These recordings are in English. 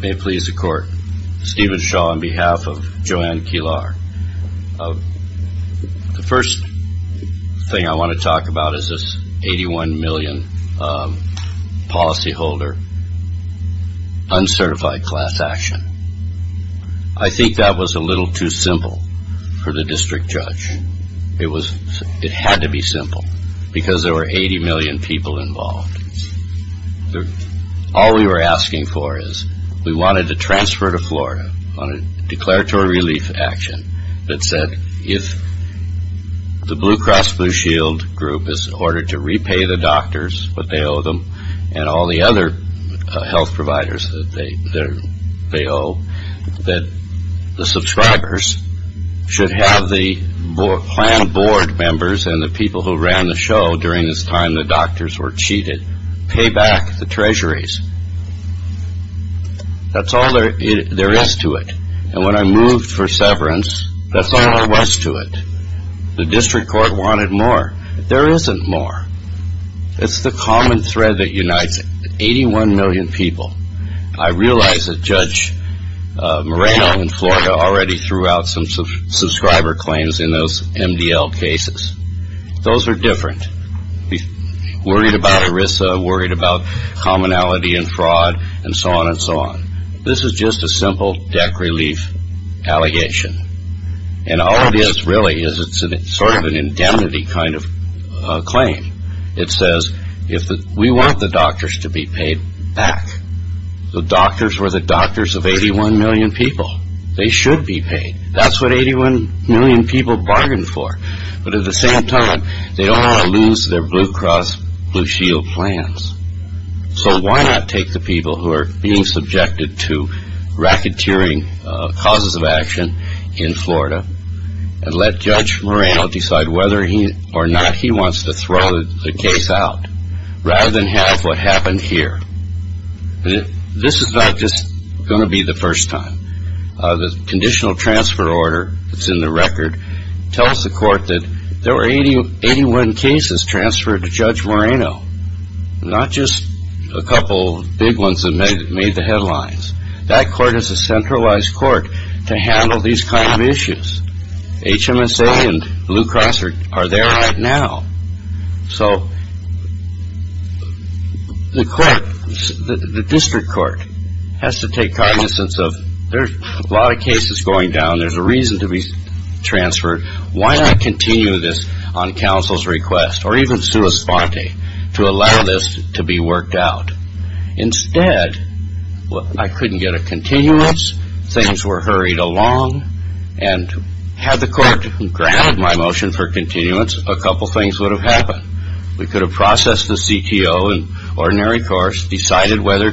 May it please the court. Stephen Shaw on behalf of Joanne Kilar. The first thing I want to talk about is this 81 million policyholder, uncertified class action. I think that was a little too simple for the district judge. It had to be simple because there were 80 million people involved. All we were asking for is we wanted a transfer to Florida on a declaratory relief action that said if the Blue Cross Blue Shield group is ordered to repay the doctors what they owe them and all the other health providers that they owe, that the subscribers should have the planned board members and the people who ran the show during this time the doctors were cheated, pay back the treasuries. That's all there is to it. And when I moved for severance, that's all there was to it. The district court wanted more. There isn't more. It's the common thread that unites 81 million people. I realize that Judge Moreno in Florida already threw out some subscriber claims in those MDL cases. Those are different. Worried about ERISA, worried about commonality and fraud and so on and so on. This is just a simple debt relief allegation. And all it is really is it's sort of an indemnity kind of claim. It says we want the doctors to be paid back. The doctors were the doctors of 81 million people. They should be paid. That's what 81 million people are arguing for. But at the same time, they don't want to lose their Blue Cross Blue Shield plans. So why not take the people who are being subjected to racketeering causes of action in Florida and let Judge Moreno decide whether or not he wants to throw the case out rather than have what happened here. This is not just going to be the first time. The court tells the court that there were 81 cases transferred to Judge Moreno. Not just a couple big ones that made the headlines. That court is a centralized court to handle these kind of issues. HMSA and Blue Cross are there right now. So the court, the district court has to take cognizance of there's a lot of cases going down. There's a reason to be transferred. Why not continue this on counsel's request or even sua sponte to allow this to be worked out? Instead, I couldn't get a continuance. Things were hurried along. And had the court granted my motion for continuance, a couple things would have happened. We could have processed the CTO in ordinary course, decided whether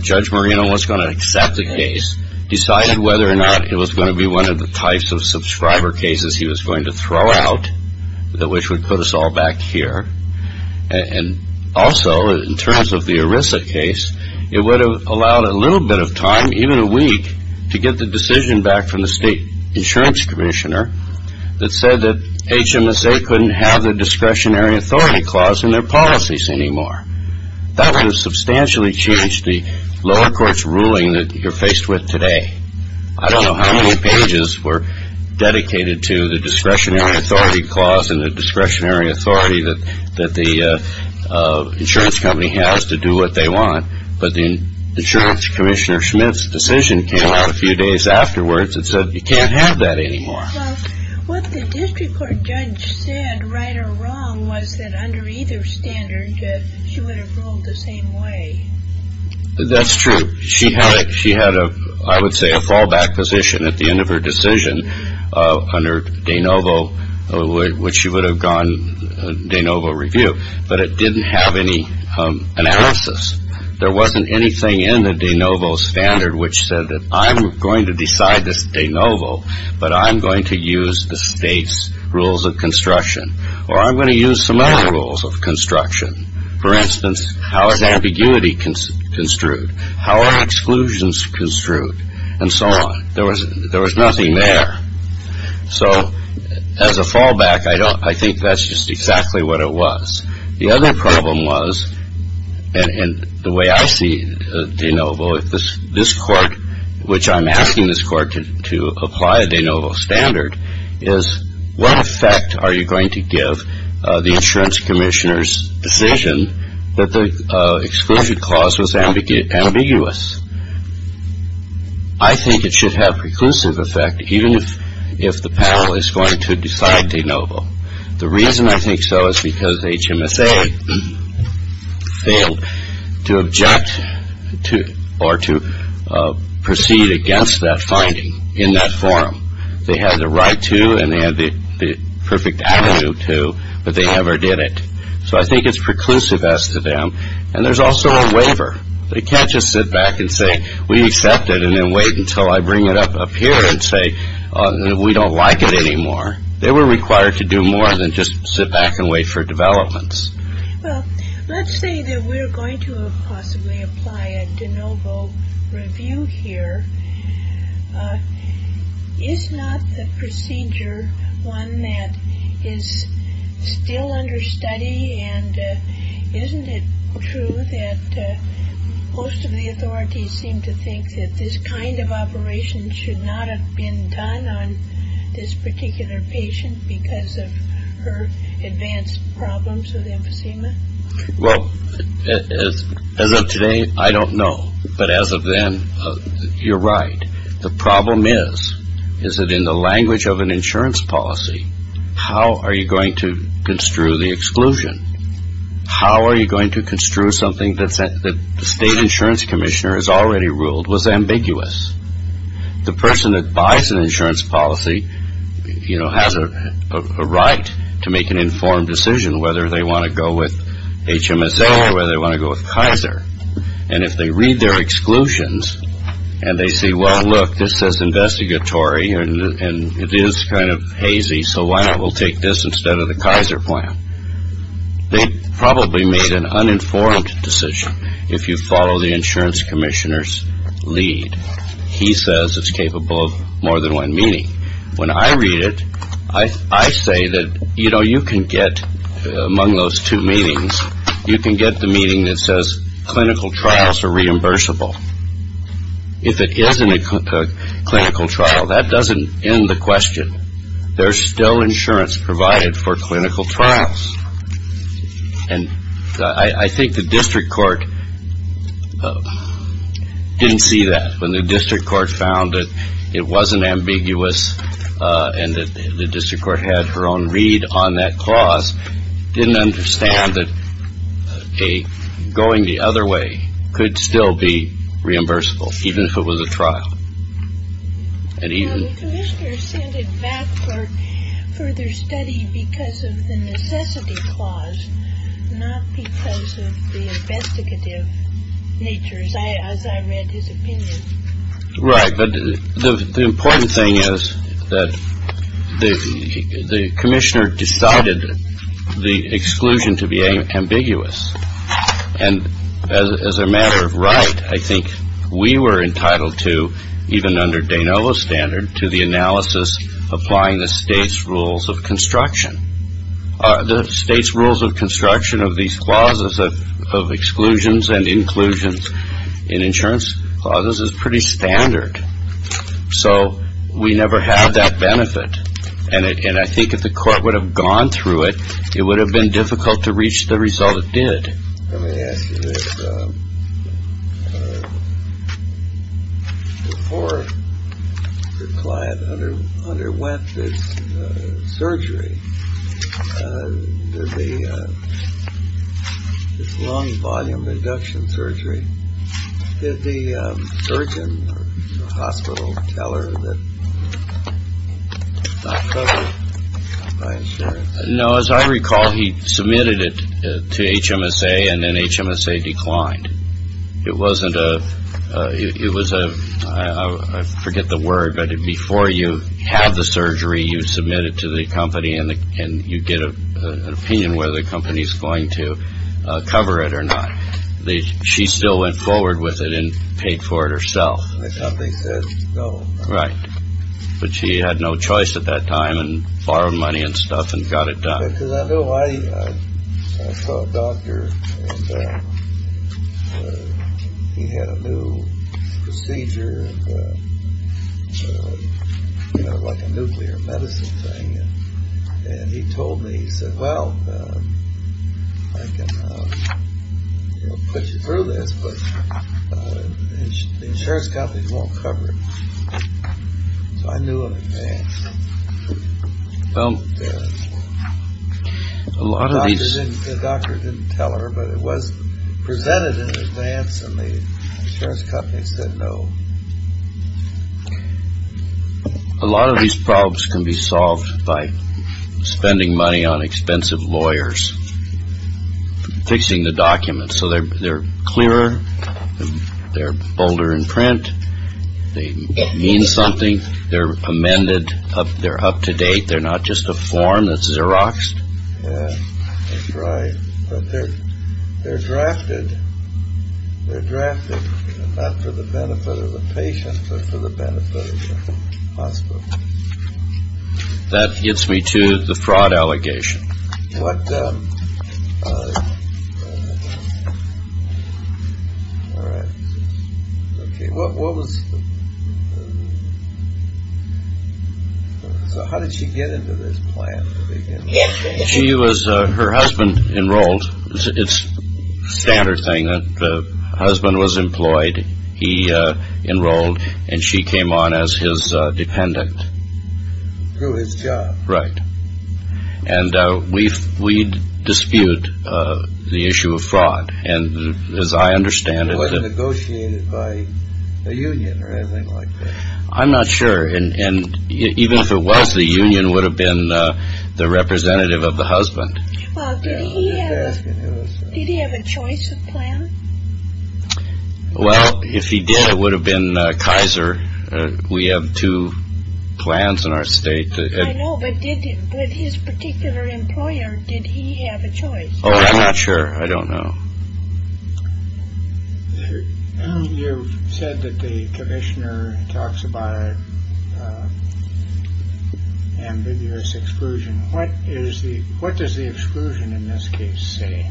Judge Moreno was going to throw out the types of subscriber cases he was going to throw out, which would put us all back here. And also, in terms of the ERISA case, it would have allowed a little bit of time, even a week, to get the decision back from the state insurance commissioner that said that HMSA couldn't have the discretionary authority clause in their policies anymore. That would have substantially changed the lower court's ruling that you're faced with were dedicated to the discretionary authority clause and the discretionary authority that the insurance company has to do what they want. But the insurance commissioner Schmidt's decision came out a few days afterwards and said, you can't have that anymore. Well, what the district court judge said, right or wrong, was that under either standard, she would have ruled the same way. That's true. She had a, I would say, a fallback position at the end of her decision under de novo, which she would have gone de novo review. But it didn't have any analysis. There wasn't anything in the de novo standard which said that I'm going to decide this de novo, but I'm going to use the state's rules of construction. Or I'm going to use some other rules of construction. For instance, how is ambiguity construed? How are exclusions construed? And so on. There was nothing there. So as a fallback, I think that's just exactly what it was. The other problem was, and the way I see de novo, if this court, which I'm asking this court to apply a de novo standard, is what effect are you going to give the insurance commissioner's decision that the exclusion clause was ambiguous? I think it should have preclusive effect, even if the panel is going to decide de novo. The reason I think so is because HMSA failed to object to or to proceed against that finding in that forum. They had the right to and they had the perfect avenue to, but they never did it. So I think it's preclusive as to them. And there's also a waiver. They can't just sit back and say we accept it and then wait until I bring it up here and say we don't like it anymore. They were required to do more than just sit back and wait for developments. Well, let's say that we're going to possibly apply a de novo review here. Is not the procedure one that is still under study? And isn't it true that most of the authorities seem to think that this kind of operation should not have been done on this particular patient because of her advanced problems with emphysema? Well, as of today, I don't know. But as of then, you're right. The problem is, is that in the language of an insurance policy, how are you going to construe the exclusion? How are you going to construe something that the state insurance commissioner has already ruled was ambiguous? The person that buys an insurance policy, you know, has a right to make an informed decision whether they want to go with HMSA or whether they want to go with Kaiser. And if they read their exclusions and they say, well, look, this says investigatory and it is kind of hazy, so why not we'll take this instead of the Kaiser plan? They probably made an uninformed decision. If you follow the insurance commissioner's lead, he says it's capable of more than one meaning. When I read it, I say that, you know, you can get among those two meanings, you can get the meaning that says clinical trials are reimbursable. If it isn't a clinical trial, that doesn't end the question. There's still insurance provided for clinical trials. And I think the district court didn't see that. When the district court found that it wasn't ambiguous and that the district court had her own read on that clause, didn't understand that a going the other way could still be reimbursable, even if it was a trial. And even the commissioner sent it back for further study because of the necessity clause, not because of the investigative nature, as I read his opinion. Right. But the important thing is that the commissioner decided the exclusion to be ambiguous. And as a matter of right, I think we were entitled to, even under Danova's standard, to the analysis applying the state's rules of construction. The state's rules of construction of these clauses of exclusions and inclusions in insurance clauses is pretty standard. So we never had that benefit. And I think if the court would have gone through it, it would have been difficult to reach the result it did. Let me ask you this. Before the client under underwent this surgery, did the lung volume reduction surgery, did the surgeon or hospital tell her that it's not covered by insurance? No, as I recall, he submitted it to HMSA and then HMSA declined. It wasn't a it was a I forget the word, but before you have the surgery, you submit it to the company and you get an opinion whether the company is going to cover it or not. She still went forward with it and paid for it herself. Something says, oh, right. But she had no choice at that time and borrowed money and stuff and got it done. Because I know I saw a doctor and he had a new procedure, you know, like a nuclear medicine thing. And he told me, he said, well, I can put you through this, but insurance companies won't cover it. I knew. Well, a lot of these doctors didn't tell her, but it was presented in advance and the insurance companies said no. A lot of these problems can be solved by spending money on expensive lawyers fixing the documents. So they're clearer. They're bolder in print. They mean something. They're amended. They're up to date. They're not just a form that's Xeroxed. Right. But they're they're drafted. They're drafted for the benefit of the patient, for the benefit of the hospital. That gets me to the fraud allegation. What. All right. What was. So how did she get into this plan? She was her husband enrolled. It's standard saying that the husband was employed. He enrolled and she came on as his dependent through his job. Right. And we we dispute the issue of fraud. And as I understand it, it was negotiated by a union or anything like that. I'm not sure. And even if it was, the union would have been the representative of the husband. Well, did he have a choice of plan? Well, if he did, it would have been Kaiser. We have two plans in our state. I know. But did his particular employer. Did he have a choice? Oh, I'm not sure. I don't know. You said that the commissioner talks about. Ambiguous exclusion. What is the what does the exclusion in this case say?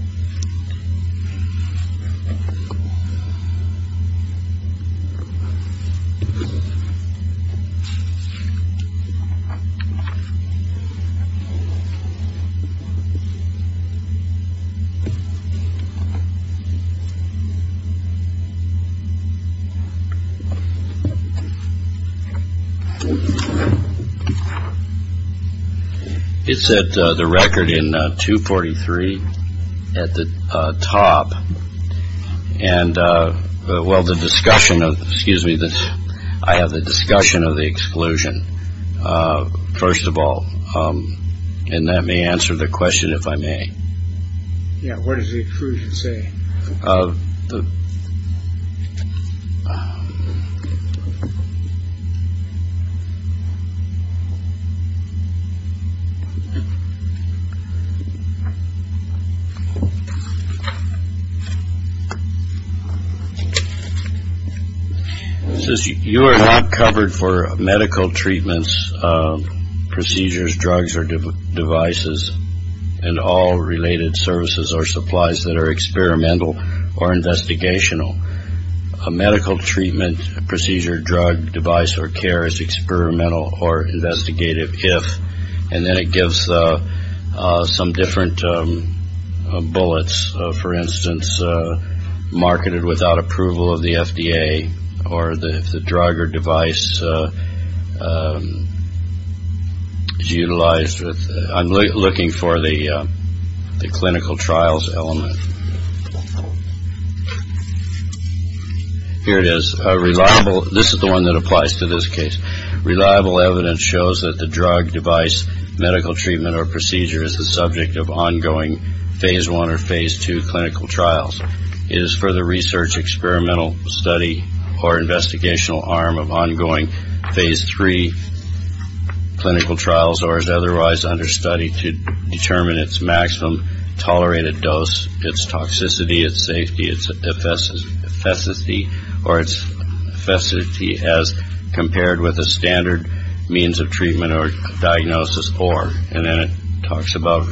It said the record in two forty three at the top. And well, the discussion of excuse me, this I have the discussion of the exclusion. First of all. And that may answer the question, if I may. Yeah. What does the exclusion say? You are not covered for medical treatments, procedures, drugs or devices and all related services or supplies that are experimental or investigational. A medical treatment procedure, drug, device or care is experimental or investigative. If and then it gives some different bullets, for instance, marketed without approval of the FDA or the drug or device is utilized. I'm looking for the the clinical trials element. Here it is. Reliable. This is the one that applies to this case. Reliable evidence shows that the drug, device, medical treatment or procedure is the subject of ongoing phase one or phase two. Clinical trials is for the research, experimental study or investigational arm of ongoing phase three. Clinical trials or is otherwise understudy to determine its maximum tolerated dose, its toxicity, its safety, its efficacy or its facility as compared with a standard means of treatment or diagnosis or. And then it talks about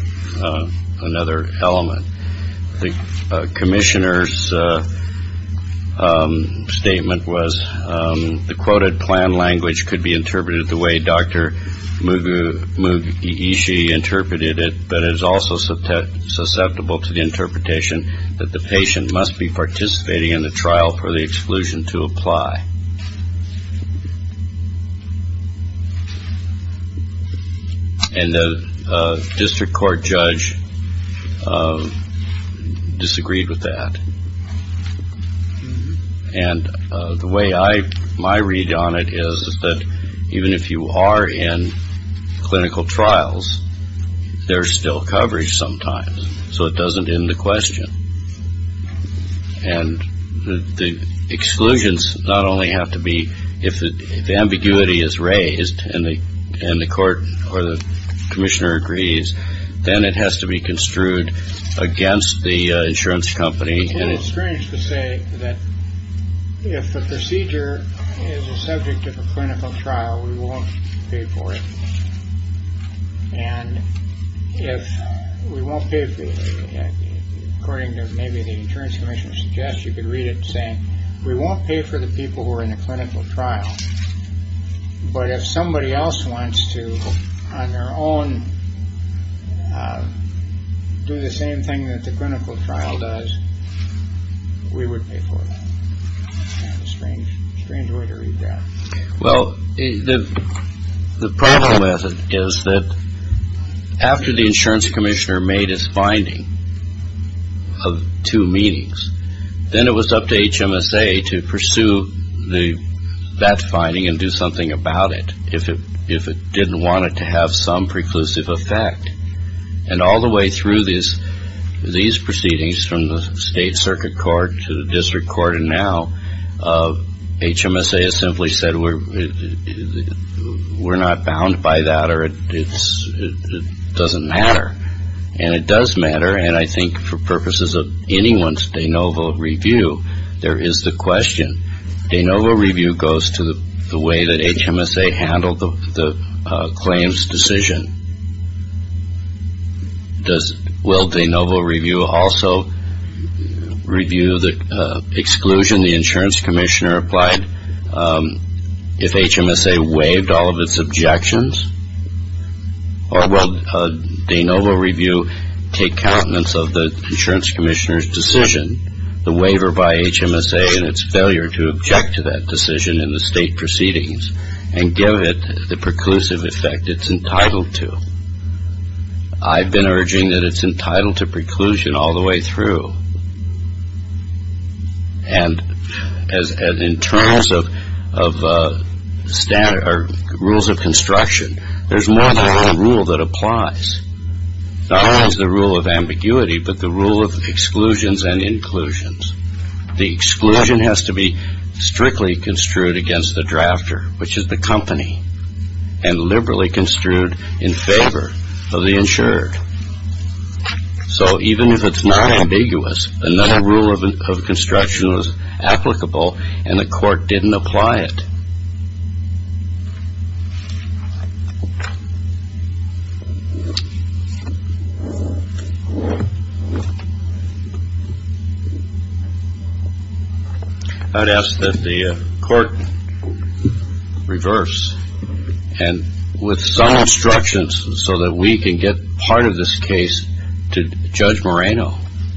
another element. The commissioner's statement was the quoted plan language could be interpreted the way Dr. Moogu Moogu easy interpreted it. But it is also so susceptible to the interpretation that the patient must be participating in the trial for the exclusion to apply. And the district court judge disagreed with that. And the way I my read on it is that even if you are in clinical trials, there's still coverage sometimes. So it doesn't end the question. And the exclusions not only have to be, if the ambiguity is raised in the end, the court or the commissioner agrees, then it has to be construed against the insurance company. And it's strange to say that if the procedure is a subject of a clinical trial, we won't pay for it. And if we won't pay for it, according to maybe the insurance commission, suggest you could read it saying we won't pay for the people who are in a clinical trial. But if somebody else wants to on their own do the same thing that the clinical trial does, we would pay for it. Strange, strange way to read that. Well, the problem with it is that after the insurance commissioner made his finding of two meetings, then it was up to HMSA to pursue the that finding and do something about it. If it if it didn't want it to have some preclusive effect and all the way through this, these proceedings from the state circuit court to the district court and now HMSA has simply said we're not bound by that or it doesn't matter. And it does matter. And I think for purposes of anyone's de novo review, there is the question. De novo review goes to the way that HMSA handled the claims decision. Does, will de novo review also review the exclusion the insurance commissioner applied if HMSA waived all of its objections? Or will de novo review take countenance of the insurance commissioner's decision, the waiver by HMSA and its failure to object to that decision in the state proceedings and give it the preclusive effect it's entitled to? I've been urging that it's entitled to preclusion all the way through. And as in terms of rules of construction, there's more than one rule that applies. Not only is the rule of ambiguity, but the rule of exclusions and inclusions. The exclusion has to be strictly construed against the drafter, which is the company, and liberally construed in favor of the insured. So even if it's not ambiguous, another rule of construction is applicable and the court didn't apply it. I'd ask that the court reverse, and with some instructions so that we can get part of this case to Judge Moreno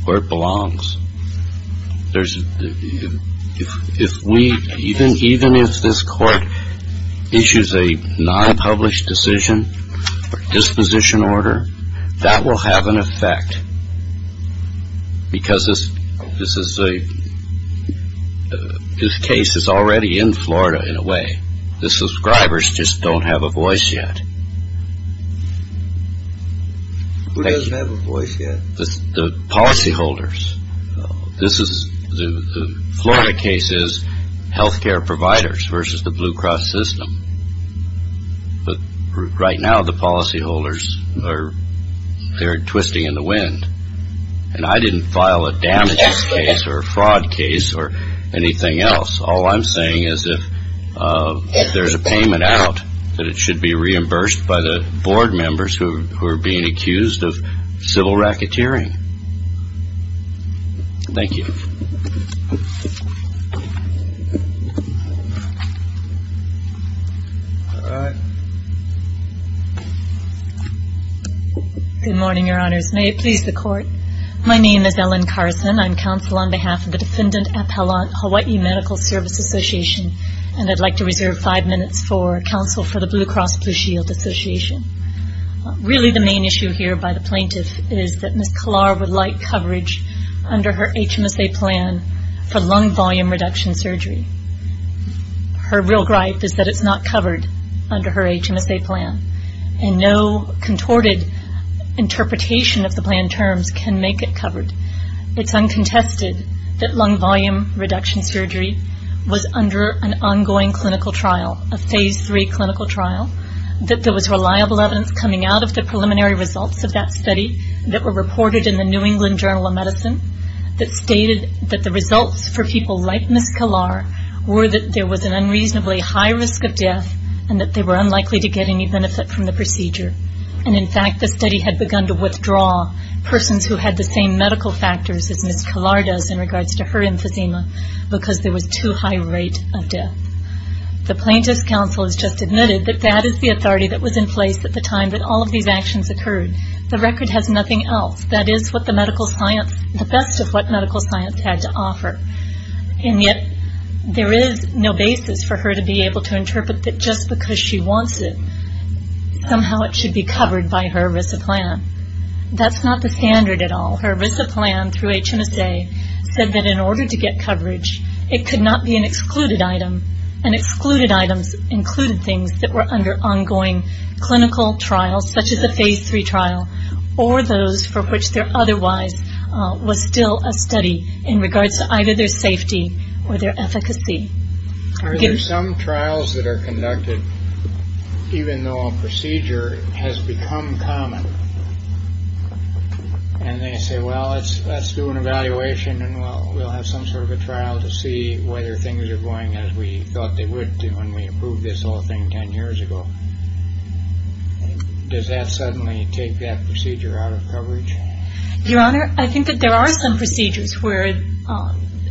where it belongs. There's, if we, even if this court issues a non-published decision or disposition order, that will have an effect. Because this is a, this case is already in Florida in a way. The subscribers just don't have a voice yet. Who doesn't have a voice yet? The policyholders. This is, the Florida case is healthcare providers versus the Blue Cross system. But right now the policyholders are, they're twisting in the wind. And I didn't file a damages case or a fraud case or anything else. All I'm saying is if there's a payment out, that it should be reimbursed by the board members who are being accused of civil racketeering. Thank you. All right. Good morning, your honors. May it please the court. My name is Ellen Carson. I'm counsel on behalf of the Defendant Appellant Hawaii Medical Service Association. And I'd like to reserve five minutes for counsel for the Blue Cross Blue Shield Association. Really the main issue here by the plaintiff is that Ms. Kalar would like coverage under her HMSA plan for lung volume reduction surgery. Her real gripe is that it's not covered under her HMSA plan. And no contorted interpretation of the plan terms can make it covered. It's uncontested that lung volume reduction surgery was under an ongoing clinical trial. A phase three clinical trial. That there was reliable evidence coming out of the preliminary results of that study that were reported in the New England Journal of Medicine. That stated that the results for people like Ms. Kalar were that there was an unreasonably high risk of death. And that they were unlikely to get any benefit from the procedure. And in fact the study had begun to withdraw persons who had the same medical factors as Ms. Kalar does in regards to her emphysema. Because there was too high a rate of death. The plaintiff's counsel has just admitted that that is the authority that was in place at the time that all of these actions occurred. The record has nothing else. That is what the medical science, the best of what medical science had to offer. And yet there is no basis for her to be able to interpret that just because she wants it, somehow it should be covered by her RISA plan. That's not the standard at all. Her RISA plan through HMSA said that in order to get coverage it could not be an excluded item. And excluded items included things that were under ongoing clinical trials such as a phase three trial. Or those for which there otherwise was still a study in regards to either their safety or their efficacy. There are some trials that are conducted even though a procedure has become common. And they say well let's do an evaluation and we'll have some sort of a trial to see whether things are going as we thought they would do when we approved this whole thing ten years ago. Does that suddenly take that procedure out of coverage? Your Honor, I think that there are some procedures where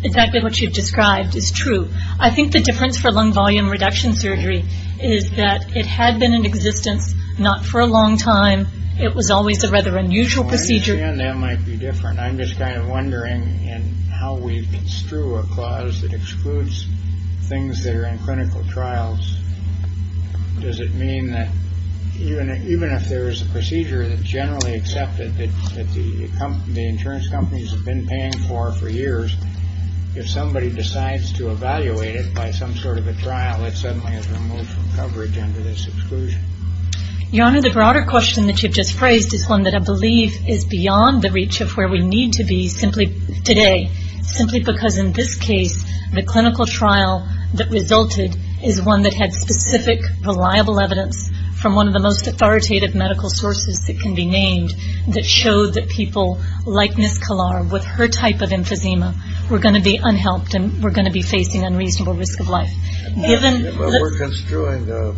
exactly what you've described is true. I think the difference for lung volume reduction surgery is that it had been in existence not for a long time. It was always a rather unusual procedure. I understand that might be different. I'm just kind of wondering in how we construe a clause that excludes things that are in clinical trials. Does it mean that even if there is a procedure that's generally accepted that the insurance companies have been paying for for years, if somebody decides to evaluate it by some sort of a trial it suddenly is removed from coverage under this exclusion? Your Honor, the broader question that you've just phrased is one that I believe is beyond the reach of where we need to be simply today. Simply because in this case the clinical trial that resulted is one that had specific reliable evidence from one of the most authoritative medical sources that can be named that showed that people like Ms. Kalar with her type of emphysema were going to be unhelped and were going to be facing unreasonable risk of life. We're construing a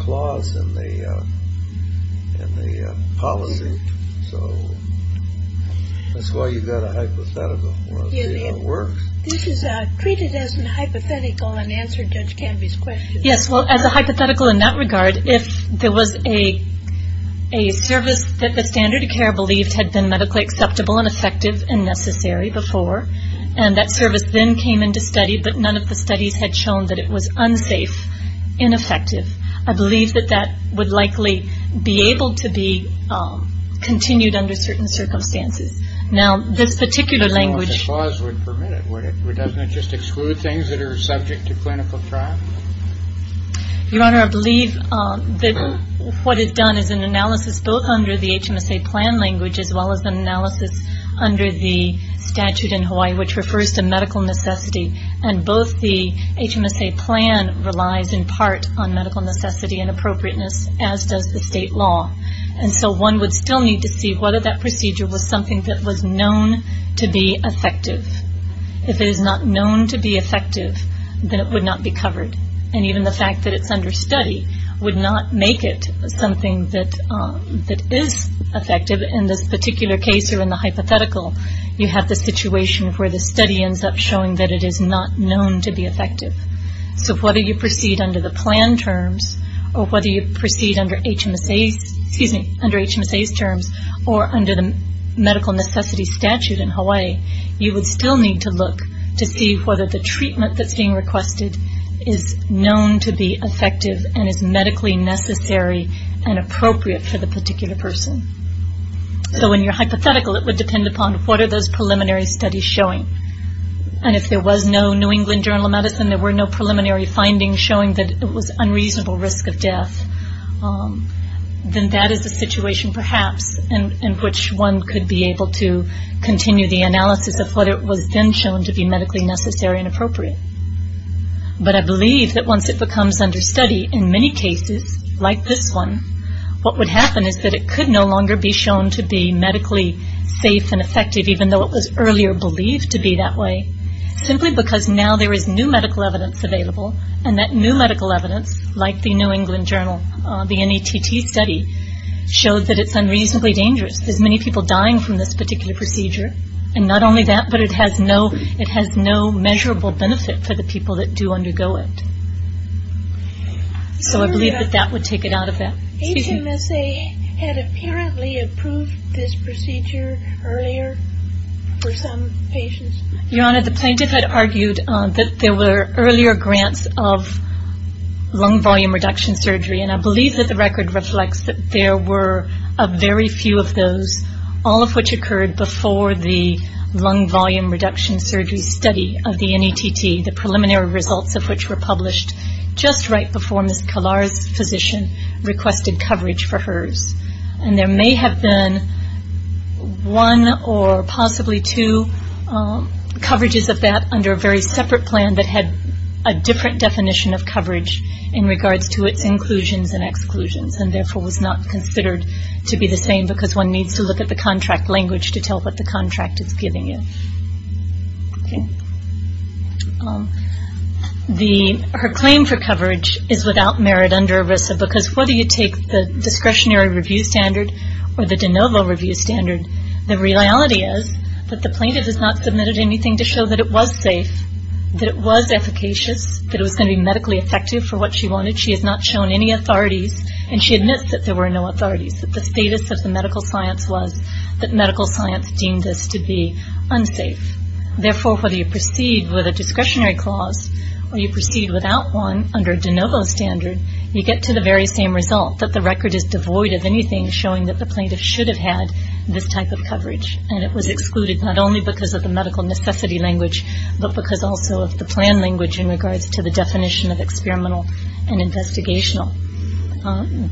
clause in the policy. So that's why you've got a hypothetical. This is treated as a hypothetical and answered Judge Canby's question. Yes, well as a hypothetical in that regard, if there was a service that the standard of care believed had been medically acceptable and effective and necessary before and that service then came into study but none of the studies had shown that it was unsafe, ineffective, I believe that that would likely be able to be continued under certain circumstances. Now this particular language... I don't know if a clause would permit it, would it? Doesn't it just exclude things that are subject to clinical trial? Your Honor, I believe that what is done is an analysis both under the HMSA plan language as well as an analysis under the statute in Hawaii which refers to medical necessity and both the HMSA plan relies in part on medical necessity and appropriateness as does the state law. And so one would still need to see whether that procedure was something that was known to be effective. If it is not known to be effective, then it would not be covered. And even the fact that it's under study would not make it something that is effective. In this particular case or in the hypothetical, you have the situation where the study ends up showing that it is not known to be effective. So whether you proceed under the plan terms or whether you proceed under HMSA's terms or under the medical necessity statute in Hawaii, you would still need to look to see whether the treatment that's being requested is known to be effective and is medically necessary and appropriate for the particular person. So in your hypothetical, it would depend upon what are those preliminary studies showing. And if there was no New England Journal of Medicine, there were no preliminary findings showing that it was unreasonable risk of death, then that is a situation perhaps in which one could be able to continue the analysis of what it was then shown to be medically necessary and appropriate. But I believe that once it becomes under study, in many cases like this one, what would happen is that it could no longer be shown to be medically safe and effective even though it was earlier believed to be that way, simply because now there is new medical evidence available and that new medical evidence, like the New England Journal, the NATT study, shows that it's unreasonably dangerous. There's many people dying from this particular procedure. And not only that, but it has no measurable benefit for the people that do undergo it. So I believe that that would take it out of that. HMSA had apparently approved this procedure earlier for some patients. Your Honor, the plaintiff had argued that there were earlier grants of lung volume reduction surgery, and I believe that the record reflects that there were a very few of those, all of which occurred before the lung volume reduction surgery study of the NATT, the preliminary results of which were published just right before Ms. Kallar's physician requested coverage for hers. And there may have been one or possibly two coverages of that under a very separate plan that had a different definition of coverage in regards to its inclusions and exclusions, and therefore was not considered to be the same because one needs to look at the contract language to tell what the contract is giving you. Her claim for coverage is without merit under ERISA because whether you take the discretionary review standard or the de novo review standard, the reality is that the plaintiff has not submitted anything to show that it was safe, that it was efficacious, that it was going to be medically effective for what she wanted. She has not shown any authorities, and she admits that there were no authorities, that the status of the medical science was that medical science deemed this to be unsafe. Therefore, whether you proceed with a discretionary clause or you proceed without one under a de novo standard, you get to the very same result that the record is devoid of anything showing that the plaintiff should have had this type of coverage. And it was excluded not only because of the medical necessity language, but because also of the plan language in regards to the definition of experimental and investigational.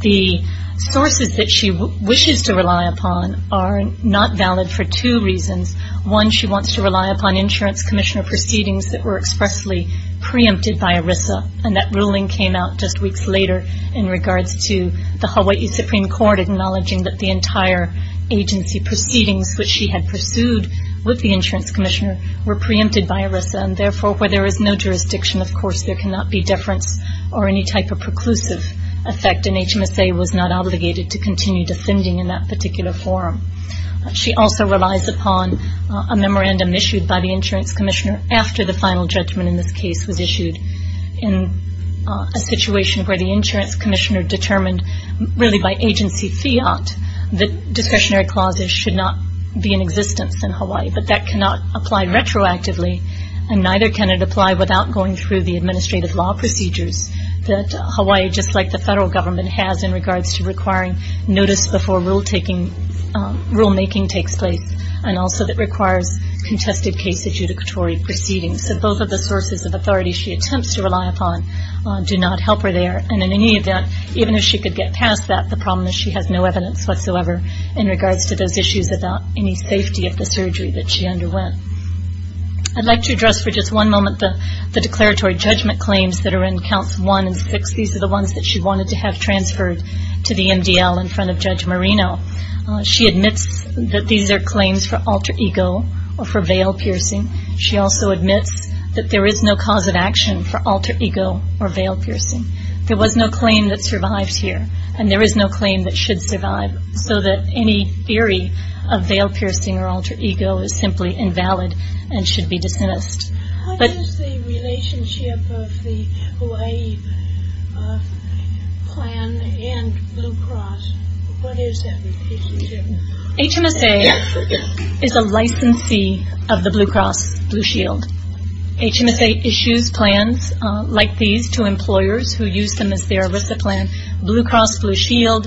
The sources that she wishes to rely upon are not valid for two reasons. One, she wants to rely upon insurance commissioner proceedings that were expressly preempted by ERISA, and that ruling came out just weeks later in regards to the Hawaii Supreme Court acknowledging that the entire agency proceedings, which she had pursued with the insurance commissioner, were preempted by ERISA. And therefore, where there is no jurisdiction, of course, there cannot be deference or any type of preclusive effect, and HMSA was not obligated to continue defending in that particular forum. She also relies upon a memorandum issued by the insurance commissioner after the final judgment in this case was issued in a situation where the insurance commissioner determined really by agency fiat that discretionary clauses should not be in existence in Hawaii. But that cannot apply retroactively, and neither can it apply without going through the administrative law procedures that Hawaii, just like the federal government, has in regards to requiring notice before rulemaking takes place and also that requires contested case adjudicatory proceedings. So both of the sources of authority she attempts to rely upon do not help her there, and in any event, even if she could get past that, the problem is she has no evidence whatsoever in regards to those issues about any safety of the surgery that she underwent. I'd like to address for just one moment the declaratory judgment claims that are in counts one and six. These are the ones that she wanted to have transferred to the MDL in front of Judge Marino. She admits that these are claims for alter ego or for veil piercing. She also admits that there is no cause of action for alter ego or veil piercing. There was no claim that survives here, and there is no claim that should survive, so that any theory of veil piercing or alter ego is simply invalid and should be dismissed. What is the relationship of the Hawaii plan and Blue Cross? What is that relationship? HMSA is a licensee of the Blue Cross Blue Shield. HMSA issues plans like these to employers who use them as their ERISA plan. Blue Cross Blue Shield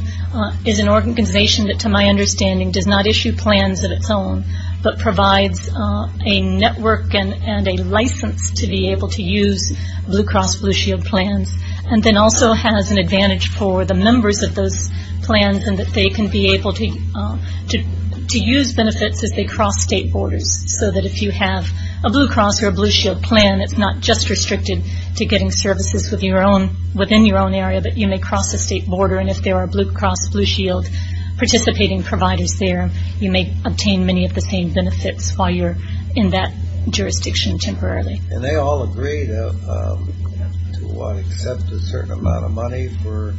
is an organization that, to my understanding, does not issue plans of its own, but provides a network and a license to be able to use Blue Cross Blue Shield plans, and then also has an advantage for the members of those plans in that they can be able to use benefits as they cross state borders, so that if you have a Blue Cross or a Blue Shield plan, it's not just restricted to getting services within your own area, but you may cross a state border. And if there are Blue Cross Blue Shield participating providers there, you may obtain many of the same benefits while you're in that jurisdiction temporarily. And they all agree to accept a certain amount of money for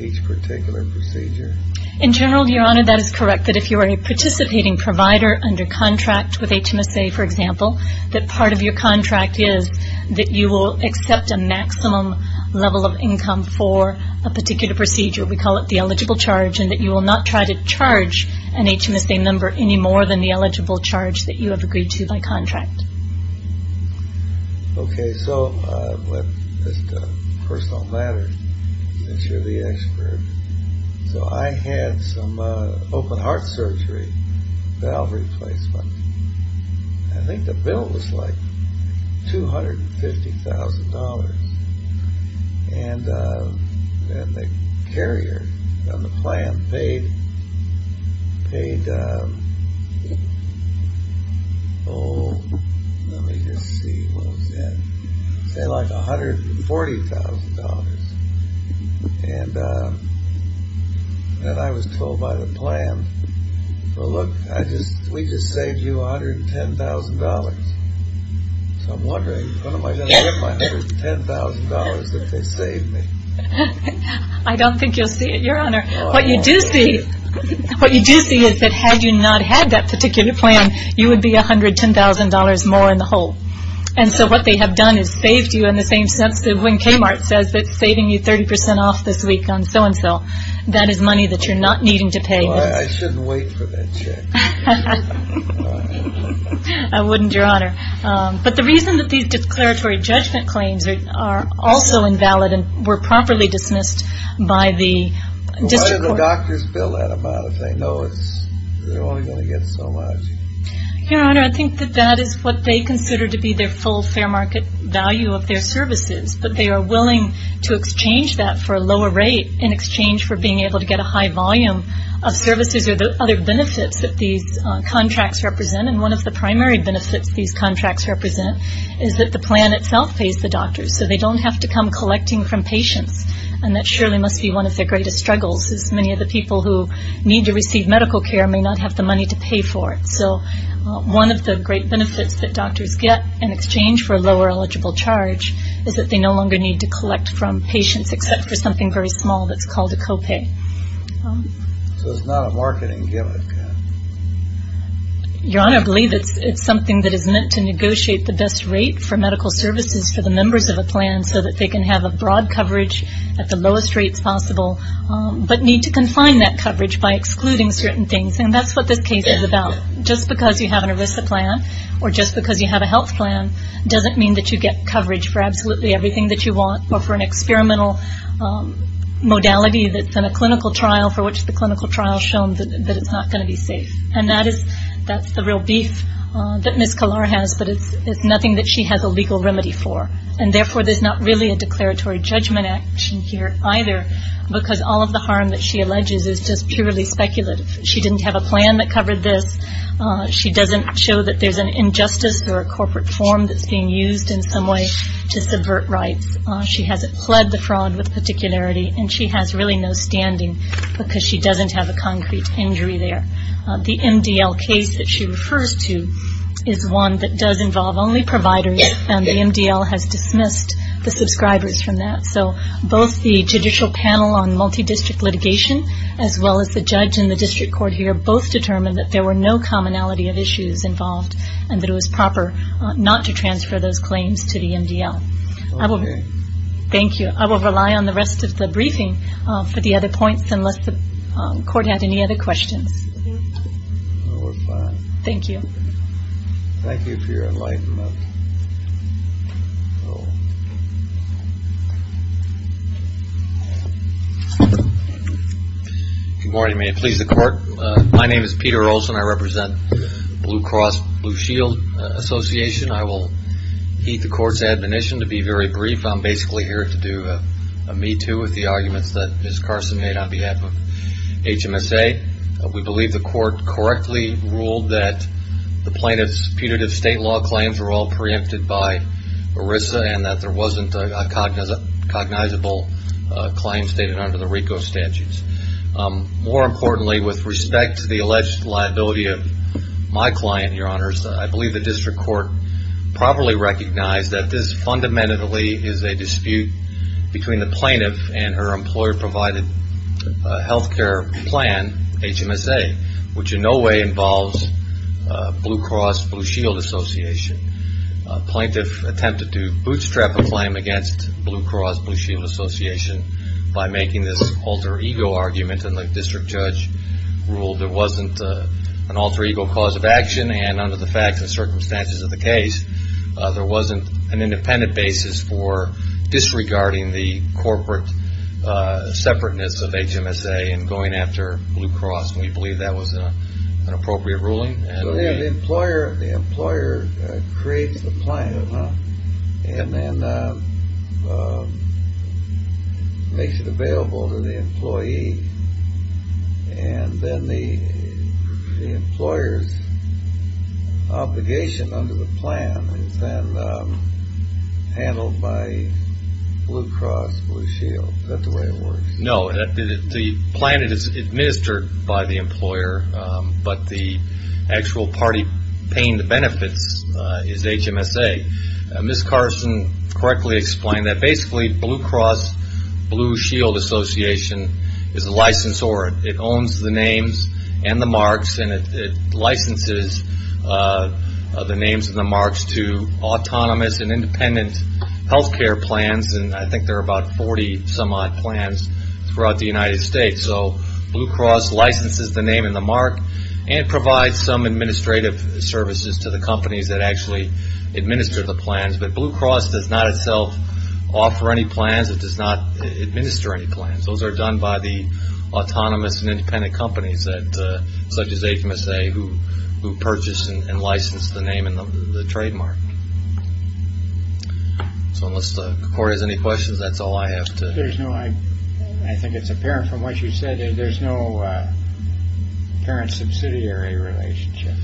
each particular procedure? In general, Your Honor, that is correct, that if you are a participating provider under contract with HMSA, for example, that part of your contract is that you will accept a maximum level of income for a particular procedure. We call it the eligible charge, and that you will not try to charge an HMSA member any more than the eligible charge that you have agreed to by contract. Okay, so let's get personal matters, since you're the expert. So I had some open heart surgery, valve replacement. I think the bill was like $250,000. And the carrier on the plan paid, oh, let me just see what it said. It said like $140,000. And then I was told by the plan, well, look, we just saved you $110,000. So I'm wondering when am I going to get my $110,000 that they saved me? I don't think you'll see it, Your Honor. What you do see is that had you not had that particular plan, you would be $110,000 more in the hole. And so what they have done is saved you in the same sense that when Kmart says that it's saving you 30% off this week on so-and-so, that is money that you're not needing to pay. Well, I shouldn't wait for that check. I wouldn't, Your Honor. But the reason that these declaratory judgment claims are also invalid and were properly dismissed by the district court. Why do the doctors bill that amount if they know they're only going to get so much? Your Honor, I think that that is what they consider to be their full fair market value of their services. But they are willing to exchange that for a lower rate in exchange for being able to get a high volume of services These are the other benefits that these contracts represent, and one of the primary benefits these contracts represent is that the plan itself pays the doctors, so they don't have to come collecting from patients, and that surely must be one of their greatest struggles as many of the people who need to receive medical care may not have the money to pay for it. So one of the great benefits that doctors get in exchange for a lower eligible charge is that they no longer need to collect from patients except for something very small that's called a copay. So it's not a marketing gimmick. Your Honor, I believe it's something that is meant to negotiate the best rate for medical services for the members of a plan so that they can have a broad coverage at the lowest rates possible, but need to confine that coverage by excluding certain things, and that's what this case is about. Just because you have an ERISA plan or just because you have a health plan doesn't mean that you get coverage for absolutely everything that you want or for an experimental modality that's in a clinical trial for which the clinical trial has shown that it's not going to be safe, and that's the real beef that Ms. Kalar has, but it's nothing that she has a legal remedy for, and therefore there's not really a declaratory judgment action here either because all of the harm that she alleges is just purely speculative. She didn't have a plan that covered this. She doesn't show that there's an injustice or a corporate form that's being used in some way to subvert rights. She hasn't pled the fraud with particularity, and she has really no standing because she doesn't have a concrete injury there. The MDL case that she refers to is one that does involve only providers, and the MDL has dismissed the subscribers from that. So both the Judicial Panel on Multidistrict Litigation as well as the judge and the district court here both determined that there were no commonality of issues involved and that it was proper not to transfer those claims to the MDL. Okay. Thank you. I will rely on the rest of the briefing for the other points unless the court has any other questions. No, we're fine. Thank you. Thank you for your enlightenment. Good morning. May it please the court. My name is Peter Olson. I represent Blue Cross Blue Shield Association. I will heed the court's admonition to be very brief. I'm basically here to do a me too with the arguments that Ms. Carson made on behalf of HMSA. We believe the court correctly ruled that the plaintiff's punitive state law claims were all preempted by ERISA and that there wasn't a cognizable claim stated under the RICO statutes. More importantly, with respect to the alleged liability of my client, Your Honors, I believe the district court properly recognized that this fundamentally is a dispute between the plaintiff and her employer-provided health care plan, HMSA, which in no way involves Blue Cross Blue Shield Association. A plaintiff attempted to bootstrap a claim against Blue Cross Blue Shield Association by making this alter ego argument and the district judge ruled there wasn't an alter ego cause of action and under the facts and circumstances of the case, there wasn't an independent basis for disregarding the corporate separateness of HMSA and going after Blue Cross. We believe that was an appropriate ruling. So the employer creates the plan and then makes it available to the employee and then the employer's obligation under the plan is then handled by Blue Cross Blue Shield. Is that the way it works? No, the plan is administered by the employer, but the actual party paying the benefits is HMSA. Ms. Carson correctly explained that basically Blue Cross Blue Shield Association is a licensor. It owns the names and the marks and it licenses the names and the marks to autonomous and independent health care plans and I think there are about 40 some odd plans throughout the United States. So Blue Cross licenses the name and the mark and provides some administrative services to the companies that actually administer the plans, but Blue Cross does not itself offer any plans. It does not administer any plans. Those are done by the autonomous and independent companies such as HMSA who purchase and license the name and the trademark. So unless Corey has any questions, that's all I have to... There's no, I think it's apparent from what you said, there's no parent subsidiary relationship.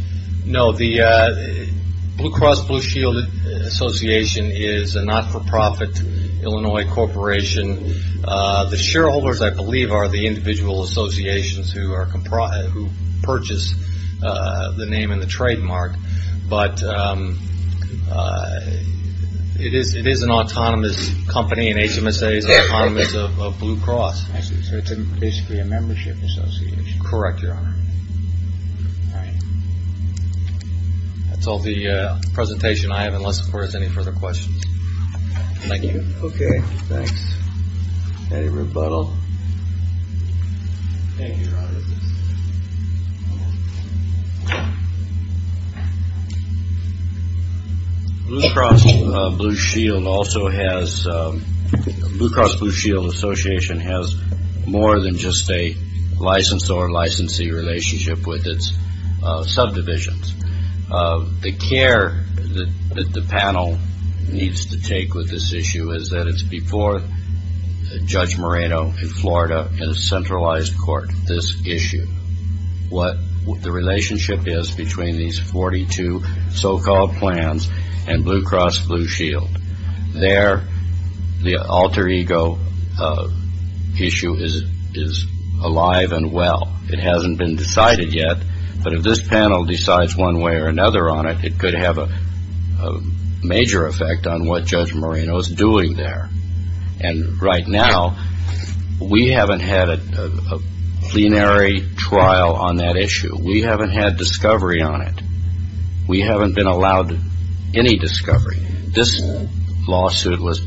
No, the Blue Cross Blue Shield Association is a not-for-profit Illinois corporation. The shareholders, I believe, are the individual associations who purchase the name and the trademark, but it is an autonomous company and HMSA is autonomous of Blue Cross. So it's basically a membership association. Correct, Your Honor. All right. That's all the presentation I have unless, of course, there's any further questions. Thank you. Okay, thanks. Any rebuttal? Thank you, Your Honor. Blue Cross Blue Shield also has, Blue Cross Blue Shield Association has more than just a license or licensee relationship with its subdivisions. The care that the panel needs to take with this issue is that it's before Judge Moreno in Florida in a centralized court, this issue, what the relationship is between these 42 so-called plans and Blue Cross Blue Shield. There, the alter ego issue is alive and well. It hasn't been decided yet, but if this panel decides one way or another on it, it could have a major effect on what Judge Moreno is doing there. And right now, we haven't had a plenary trial on that issue. We haven't had discovery on it. We haven't been allowed any discovery. This lawsuit was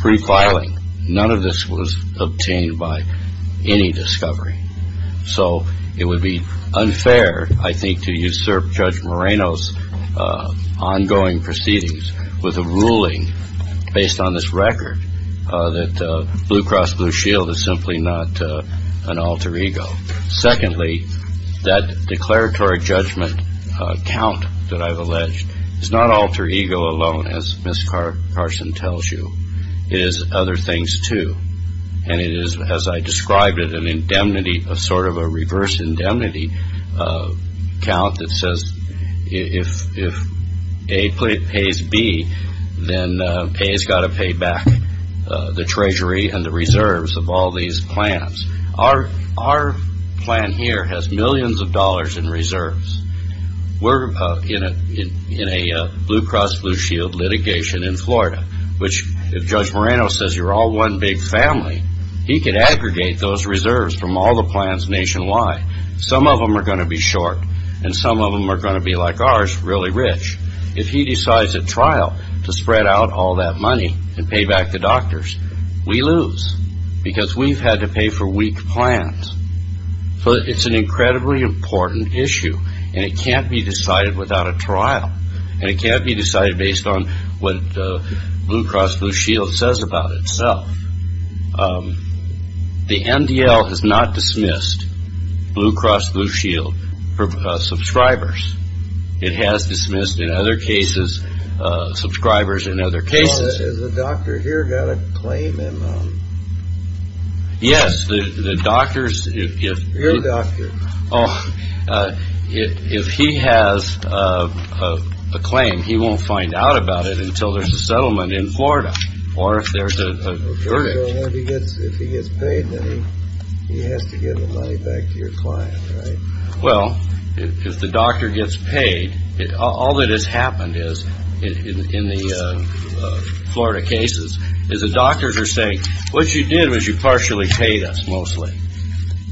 pre-filing. None of this was obtained by any discovery. So it would be unfair, I think, to usurp Judge Moreno's ongoing proceedings with a ruling based on this record that Blue Cross Blue Shield is simply not an alter ego. Secondly, that declaratory judgment count that I've alleged is not alter ego alone, as Ms. Carson tells you. It is other things, too. And it is, as I described it, an indemnity, sort of a reverse indemnity count that says if A pays B, then A has got to pay back the treasury and the reserves of all these plans. Our plan here has millions of dollars in reserves. We're in a Blue Cross Blue Shield litigation in Florida, which if Judge Moreno says you're all one big family, he could aggregate those reserves from all the plans nationwide. Some of them are going to be short, and some of them are going to be, like ours, really rich. If he decides at trial to spread out all that money and pay back the doctors, we lose, because we've had to pay for weak plans. So it's an incredibly important issue, and it can't be decided without a trial. And it can't be decided based on what Blue Cross Blue Shield says about itself. The MDL has not dismissed Blue Cross Blue Shield for subscribers. It has dismissed, in other cases, subscribers in other cases. Has the doctor here got a claim? Yes, the doctors. Your doctor. Oh, if he has a claim, he won't find out about it until there's a settlement in Florida or if there's a verdict. So if he gets paid, then he has to give the money back to your client, right? Well, if the doctor gets paid, all that has happened in the Florida cases is the doctors are saying, what you did was you partially paid us, mostly.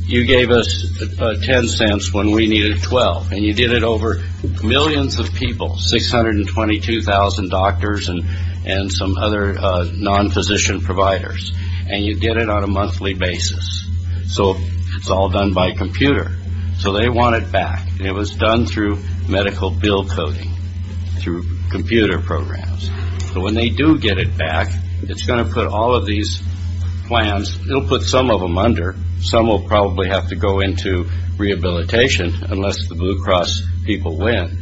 You gave us 10 cents when we needed 12. And you did it over millions of people, 622,000 doctors and some other non-physician providers. And you did it on a monthly basis. So it's all done by computer. So they want it back. And it was done through medical bill coding, through computer programs. But when they do get it back, it's going to put all of these plans, it'll put some of them under. Some will probably have to go into rehabilitation unless the Blue Cross people win.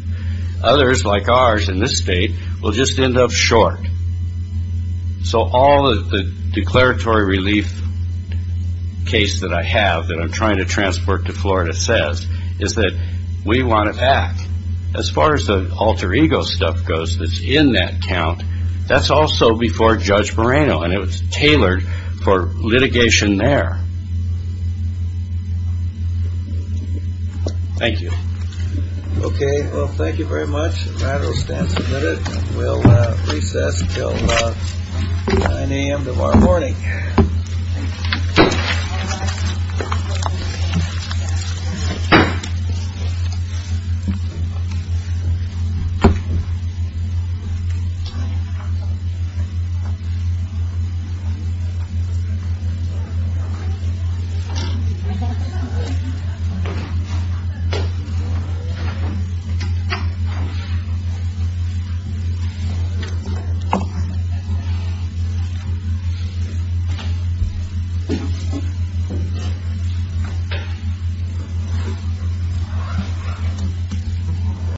Others, like ours in this state, will just end up short. So all of the declaratory relief case that I have that I'm trying to transport to Florida says is that we want it back. As far as the alter ego stuff goes that's in that count, that's also before Judge Moreno. And it was tailored for litigation there. Thank you. Okay. Well, thank you very much. The matter will stand submitted. We'll recess until 9 a.m. tomorrow morning. Thank you. Thank you.